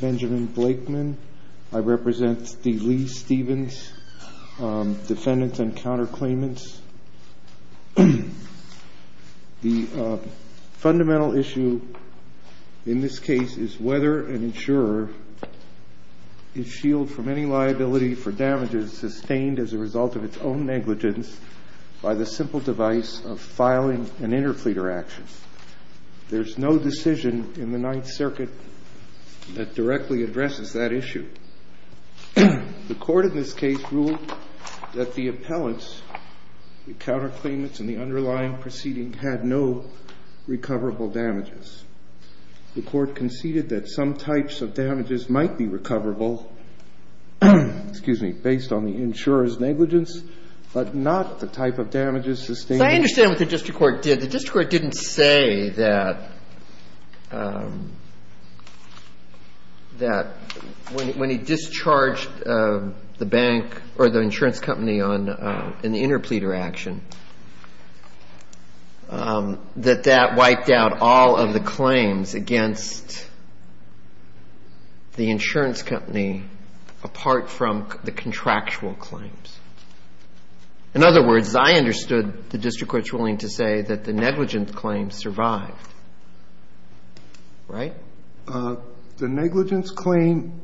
Benjamin Blakeman, D. Lee Stevens, Defendants and Counterclaimants The fundamental issue in this case is whether an insurer is shielded from any liability for damages sustained as a result of its own negligence by the simple device of filing an interfleeter action. There's no decision in the Ninth Circuit that directly addresses that issue. The Court in this case ruled that the appellants, the counterclaimants and the underlying proceeding had no recoverable damages. The Court conceded that some types of damages might be recoverable, excuse me, based on the insurer's negligence, but not the type of damages sustained. Now, I understand what the district court did. The district court didn't say that when he discharged the bank or the insurance company on an interfleeter action, that that wiped out all of the claims against the insurance company apart from the contractual claims. In other words, I understood the district court's willing to say that the negligence claims survived. Right? The negligence claim.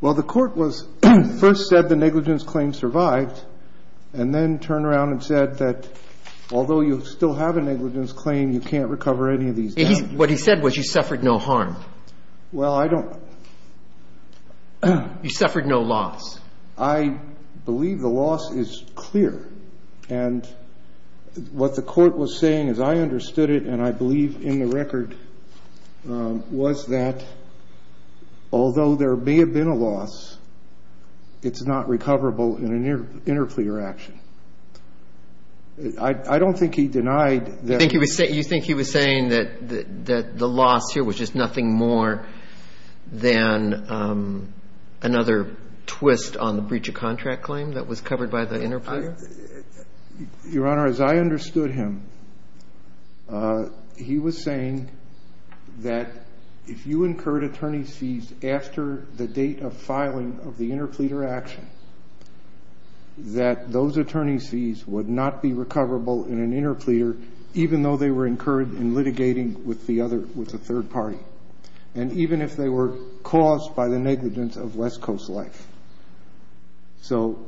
Well, the Court was first said the negligence claim survived and then turned around and said that although you still have a negligence claim, you can't recover any of these damages. What he said was you suffered no harm. Well, I don't. You suffered no loss. I believe the loss is clear. And what the Court was saying, as I understood it and I believe in the record, was that although there may have been a loss, it's not recoverable in an interfleer action. I don't think he denied that. You think he was saying that the loss here was just nothing more than another twist on the breach of contract claim that was covered by the interfleer? Your Honor, as I understood him, he was saying that if you incurred attorney's fees after the date of filing of the interfleeter action, that those attorney's fees would not be recoverable in an interfleer, even though they were incurred in litigating with the other, with the third party. And even if they were caused by the negligence of West Coast life. So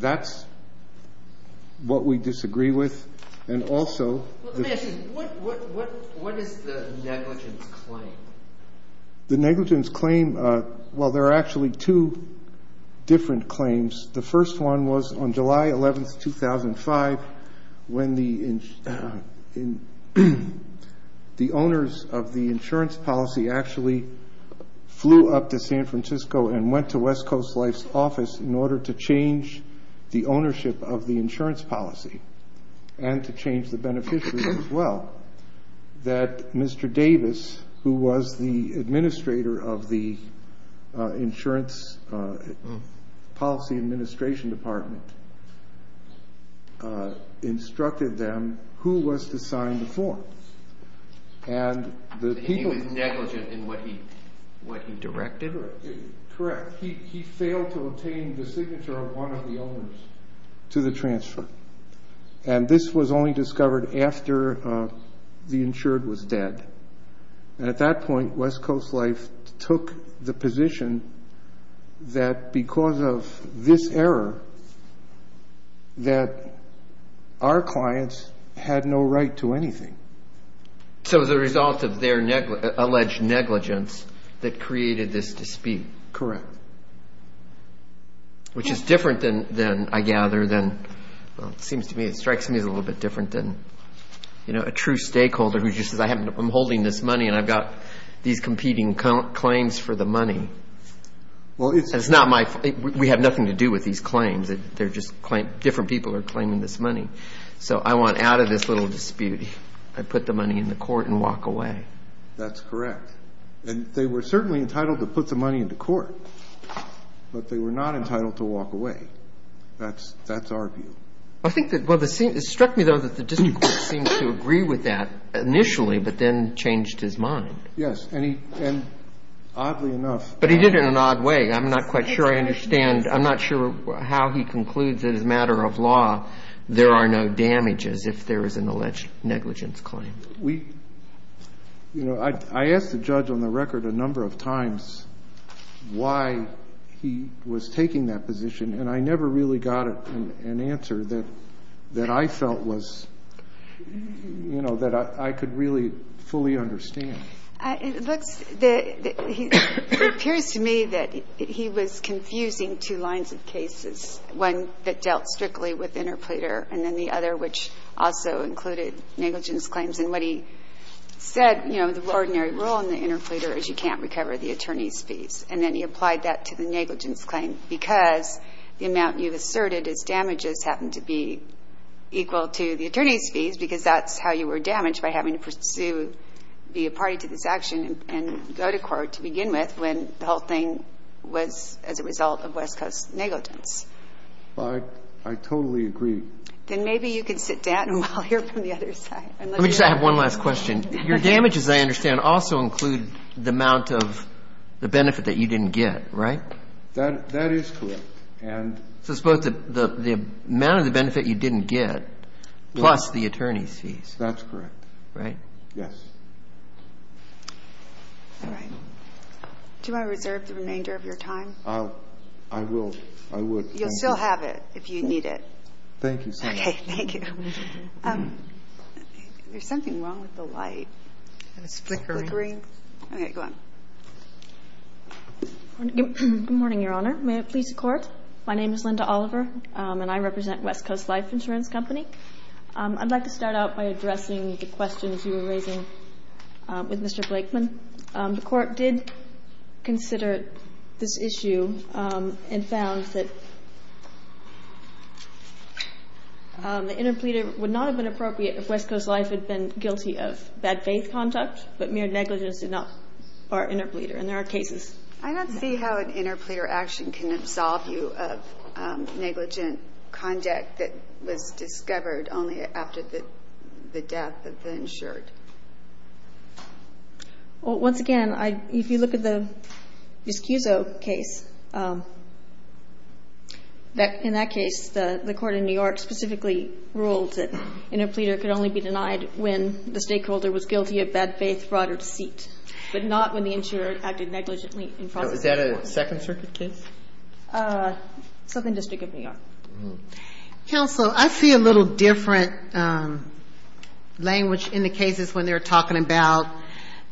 that's what we disagree with. And also, what is the negligence claim? The negligence claim. Well, there are actually two different claims. The first one was on July 11th, 2005, when the owners of the insurance policy actually flew up to San Francisco and went to West Coast Life's office in order to change the ownership of the insurance policy and to change the beneficiary as well. That Mr. Davis, who was the administrator of the insurance policy administration department, instructed them who was to sign the form. He was negligent in what he directed? Correct. He failed to obtain the signature of one of the owners to the transfer. And this was only discovered after the insured was dead. And at that point, West Coast Life took the position that because of this error, that our clients had no right to anything. So the result of their alleged negligence that created this dispute. Correct. Which is different than, I gather, than, well, it seems to me, it strikes me as a little bit different than, you know, a true stakeholder who just says, I'm holding this money and I've got these competing claims for the money. It's not my, we have nothing to do with these claims. They're just different people are claiming this money. So I want out of this little dispute, I put the money in the court and walk away. That's correct. And they were certainly entitled to put the money into court, but they were not entitled to walk away. That's our view. I think that, well, it struck me, though, that the district court seemed to agree with that initially, but then changed his mind. Yes. And oddly enough. But he did it in an odd way. I'm not quite sure I understand. I'm not sure how he concludes that as a matter of law, there are no damages if there is an alleged negligence claim. We, you know, I asked the judge on the record a number of times why he was taking that position, and I never really got an answer that I felt was, you know, that I could really fully understand. It looks, it appears to me that he was confusing two lines of cases, one that dealt with the negligence claim and the other that dealt with the damages. And what he said, you know, the ordinary rule in the interpreter is you can't recover the attorney's fees. And then he applied that to the negligence claim because the amount you've asserted as damages happened to be equal to the attorney's fees because that's how you were damaged by having to pursue, be a party to this action and go to court to begin with when the that's how you were damaged as a result of West Coast negligence. I totally agree. Then maybe you can sit down while I hear from the other side. Let me just ask one last question. Your damage, as I understand, also includes the amount of the benefit that you didn't get, right? That is correct. So it's both the amount of the benefit you didn't get plus the attorney's fees. That's correct. Right? Yes. All right. Do you want to reserve the remainder of your time? I will. I would. You'll still have it if you need it. Thank you. Okay. Thank you. There's something wrong with the light. It's flickering. Okay. Go on. Good morning, Your Honor. May it please the Court. My name is Linda Oliver, and I represent West Coast Life Insurance Company. I'd like to start out by addressing the questions you were raising with Mr. Blakeman. The Court did consider this issue and found that the interpleader would not have been appropriate if West Coast Life had been guilty of bad faith conduct but mere negligence or interpleader, and there are cases. I don't see how an interpleader action can absolve you of negligent conduct that was discovered only after the death of the insured. Well, once again, if you look at the Vizcuzzo case, in that case, the court in New York specifically ruled that interpleader could only be denied when the stakeholder was guilty of bad faith fraud or deceit, but not when the insurer acted negligently in fraud. Is that a Second Circuit case? Southern District of New York. Counsel, I see a little different language in the cases when they're talking about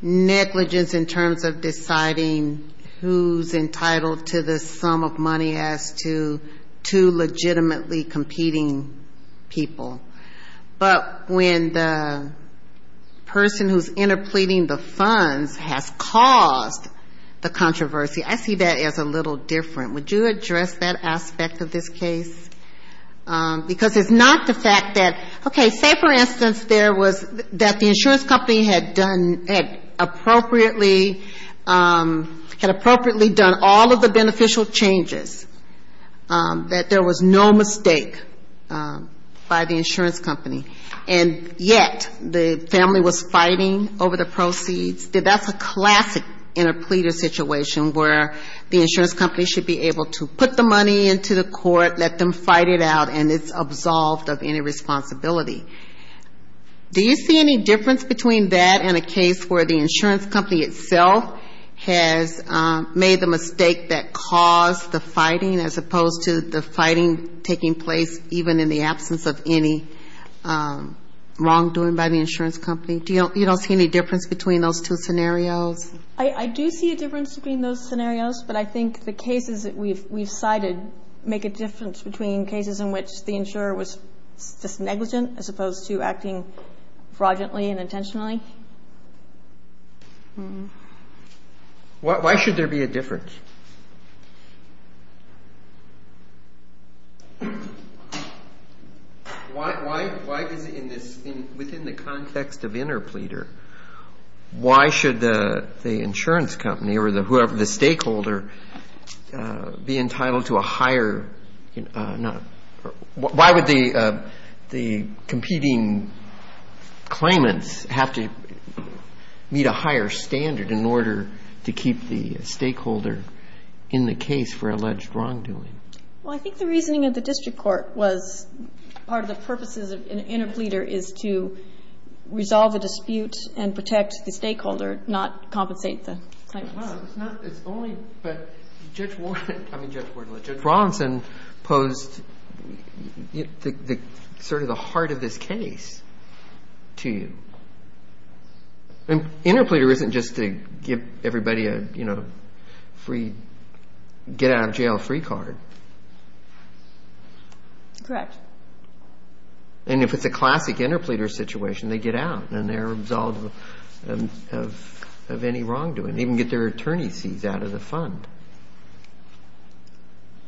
negligence in terms of deciding who's entitled to the sum of money as to two legitimately competing people. But when the person who's interpleading the funds has caused the controversy, I see that as a little different. Would you address that aspect of this case? Because it's not the fact that, okay, say, for instance, there was the insurance company had appropriately done all of the beneficial changes, that there was no mistake by the insurance company, and yet the family was fighting over the proceeds. That's a classic interpleader situation where the insurance company should be able to put the money into the court, let them fight it out, and it's absolved of any responsibility. Do you see any difference between that and a case where the insurance company itself has made the wrongdoing by the insurance company? You don't see any difference between those two scenarios? I do see a difference between those scenarios, but I think the cases that we've cited make a difference between cases in which the insurer was just negligent as opposed to acting fraudulently and intentionally. Why should there be a difference? Why is it in this, within the context of interpleader, why should the insurance company or the stakeholder be entitled to a higher, why would the competing claimants have to meet a higher standard in order to keep the stakeholder in the case for alleged wrongdoing? Well, I think the reasoning of the district court was part of the purposes of an interpleader is to resolve a dispute and protect the stakeholder, not compensate the claimants. Well, it's not, it's only, but Judge Warren, I mean Judge Warren, Judge Robinson posed sort of the heart of this case to you. Interpleader isn't just to give everybody a free, get out of jail free card. Correct. And if it's a classic interpleader situation, they get out and they're absolved of any wrongdoing, even get their attorney's fees out of the fund.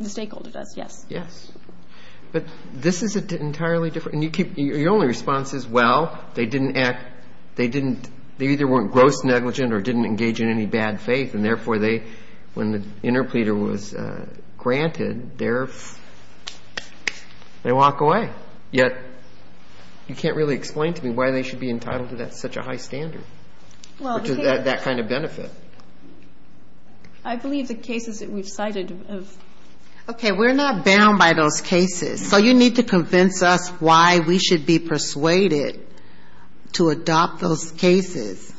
The stakeholder does, yes. But this is an entirely different, and your only response is, well, they didn't act, they didn't, they either weren't gross negligent or didn't engage in any bad faith, and therefore they, when the interpleader was granted, they're, they walk away. Yet, you can't really explain to me why they should be entitled to that such a high standard, that kind of benefit. I believe the cases that we've cited have. Okay, we're not bound by those cases. So you need to convince us why we should be persuaded to adopt those cases.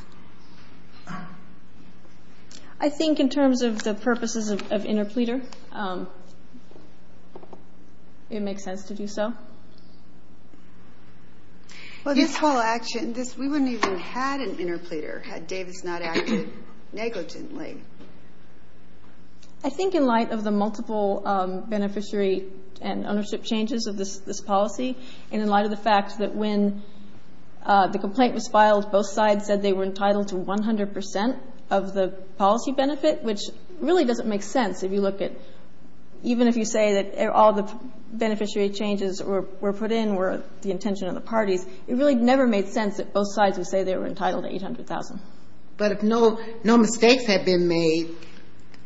I think in terms of the purposes of interpleader, it makes sense to do so. Well, this whole action, this, we wouldn't even have had an interpleader had Davis not acted negligently. I think in light of the multiple beneficiary and ownership changes of this policy, and in light of the fact that when the complaint was filed, both sides said they were entitled to 100 percent of the policy benefit, which really doesn't make sense if you look at, even if you say that all the beneficiary changes were put in were the intention of the parties, it really never made sense that both sides would say they were entitled to 800,000. But if no mistakes had been made,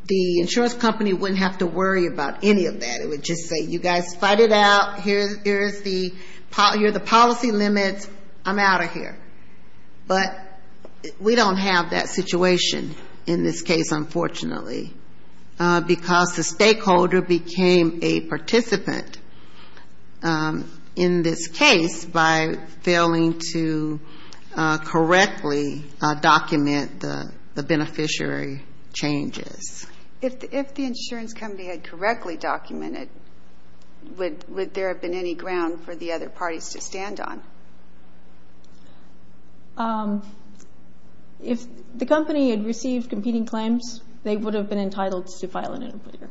the insurance company wouldn't have to worry about any of that. It would just say, you guys fight it out, here's the policy limits, I'm out of here. But we don't have that situation in this case, unfortunately, because the stakeholder became a participant in this case by failing to correctly document the beneficiary changes. If the insurance company had correctly documented, would there have been any ground for the other parties to stand on? If the company had received competing claims, they would have been entitled to file an interpreter,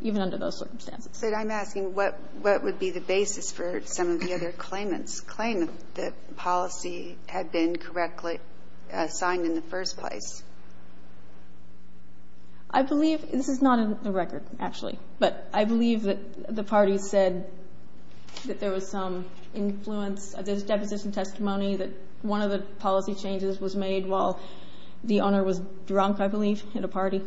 even under those circumstances. But I'm asking what would be the basis for some of the other claimants' claim that policy had been correctly signed in the first place? I believe this is not in the record, actually, but I believe that the parties said that there was some influence, there's deposition testimony that one of the policy changes was made while the owner was drunk, I believe, at a party.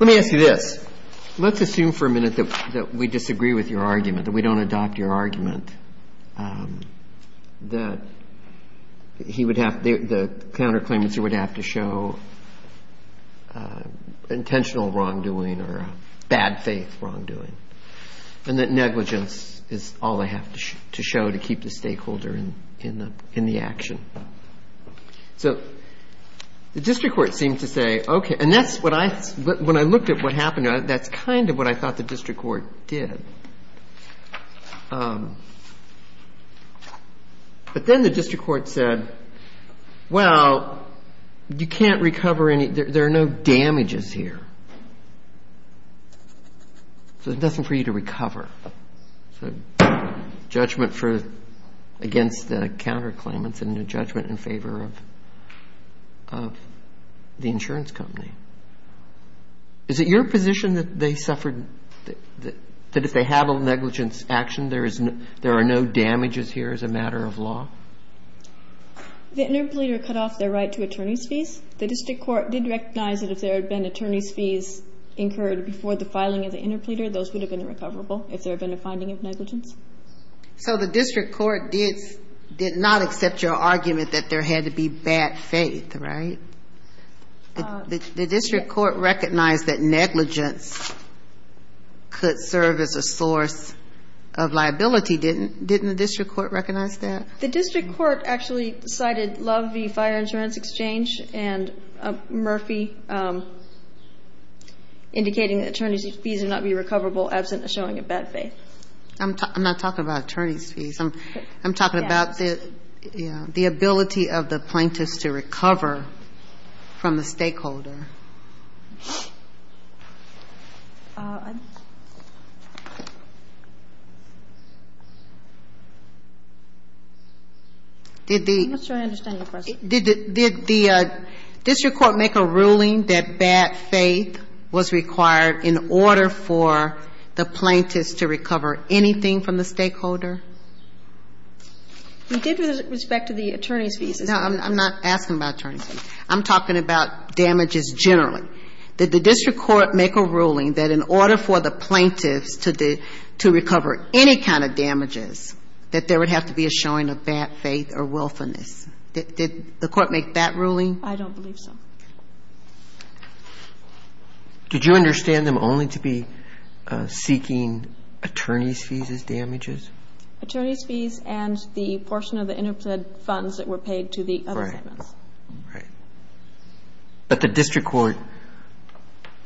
Let me ask you this. Let's assume for a minute that we disagree with your argument, that we don't adopt your argument, that the counterclaimants would have to show intentional wrongdoing or bad faith wrongdoing, and that negligence is all they have to show to keep the stakeholder in the action. So the district court seemed to say, okay, and that's what I, when I looked at what happened, that's kind of what I thought the district court did. But then the district court said, well, you can't recover any, there are no damages here. So there's nothing for you to recover. So judgment for against the counterclaimants and a judgment in favor of the insurance company. Is it your position that they suffered, that if they have a negligence action, there are no damages here as a matter of law? The interim leader cut off their right to attorney's fees. The district court did recognize that if there had been attorney's fees incurred before the filing of the interim leader, those would have been recoverable if there had been a finding of negligence. So the district court did not accept your argument that there had to be bad faith, right? The district court recognized that negligence could serve as a source of liability. Didn't the district court recognize that? The district court actually cited Love v. Fire Insurance Exchange and Murphy, indicating that attorney's fees would not be recoverable absent a showing of bad faith. I'm not talking about attorney's fees. I'm talking about the ability of the plaintiffs to recover from the stakeholder. I'm not sure I understand your question. Did the district court make a ruling that bad faith was required in order for the plaintiffs to recover anything from the stakeholder? We did with respect to the attorney's fees. No, I'm not asking about attorney's fees. I'm talking about damages generally. Did the district court make a ruling that in order for the plaintiffs to recover any kind of damages, that there would have to be a showing of bad faith or willfulness? Did the court make that ruling? I don't believe so. Did you understand them only to be seeking attorney's fees as damages? Attorney's fees and the portion of the interpreted funds that were paid to the other statements. Right. But the district court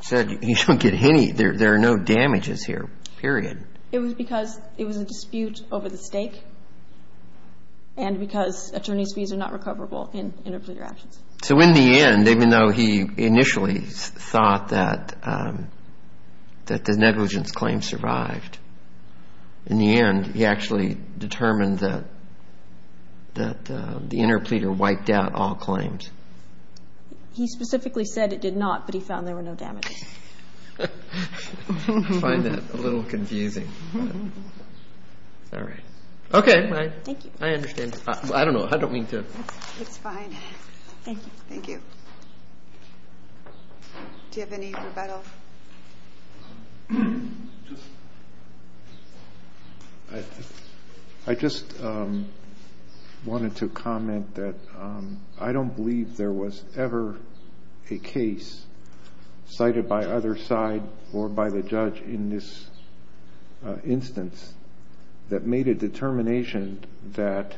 said you don't get any. There are no damages here, period. It was because it was a dispute over the stake and because attorney's fees are not recoverable in interpleader actions. So in the end, even though he initially thought that the negligence claim survived, in the end he actually determined that the interpleader wiped out all claims. He specifically said it did not, but he found there were no damages. I find that a little confusing. All right. Okay. Thank you. I understand. I don't know. I don't mean to. It's fine. Thank you. Thank you. Do you have any rebuttal? I just wanted to comment that I don't believe there was ever a case cited by other side or by the judge in this instance that made a determination that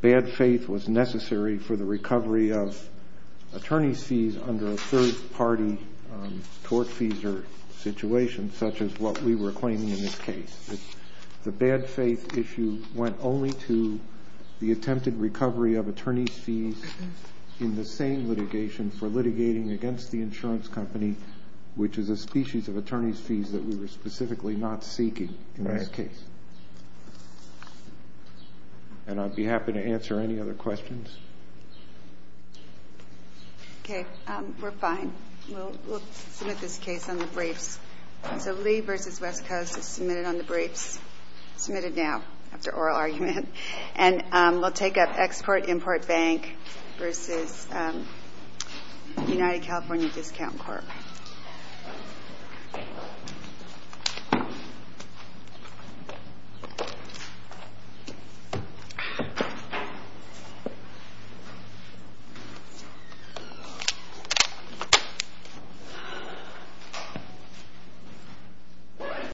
bad faith was necessary for the recovery of attorney's fees under a third-party court fees or situation such as what we were claiming in this case. The bad faith issue went only to the attempted recovery of attorney's fees in the same litigation for litigating against the insurance company, which is a species of attorney's fees that we were specifically not seeking in this case. And I'd be happy to answer any other questions. Okay. We're fine. We'll submit this case on the briefs. So Lee v. West Coast is submitted on the briefs, submitted now after oral argument. And we'll take up Export-Import Bank v. United California Discount Corp. Thank you.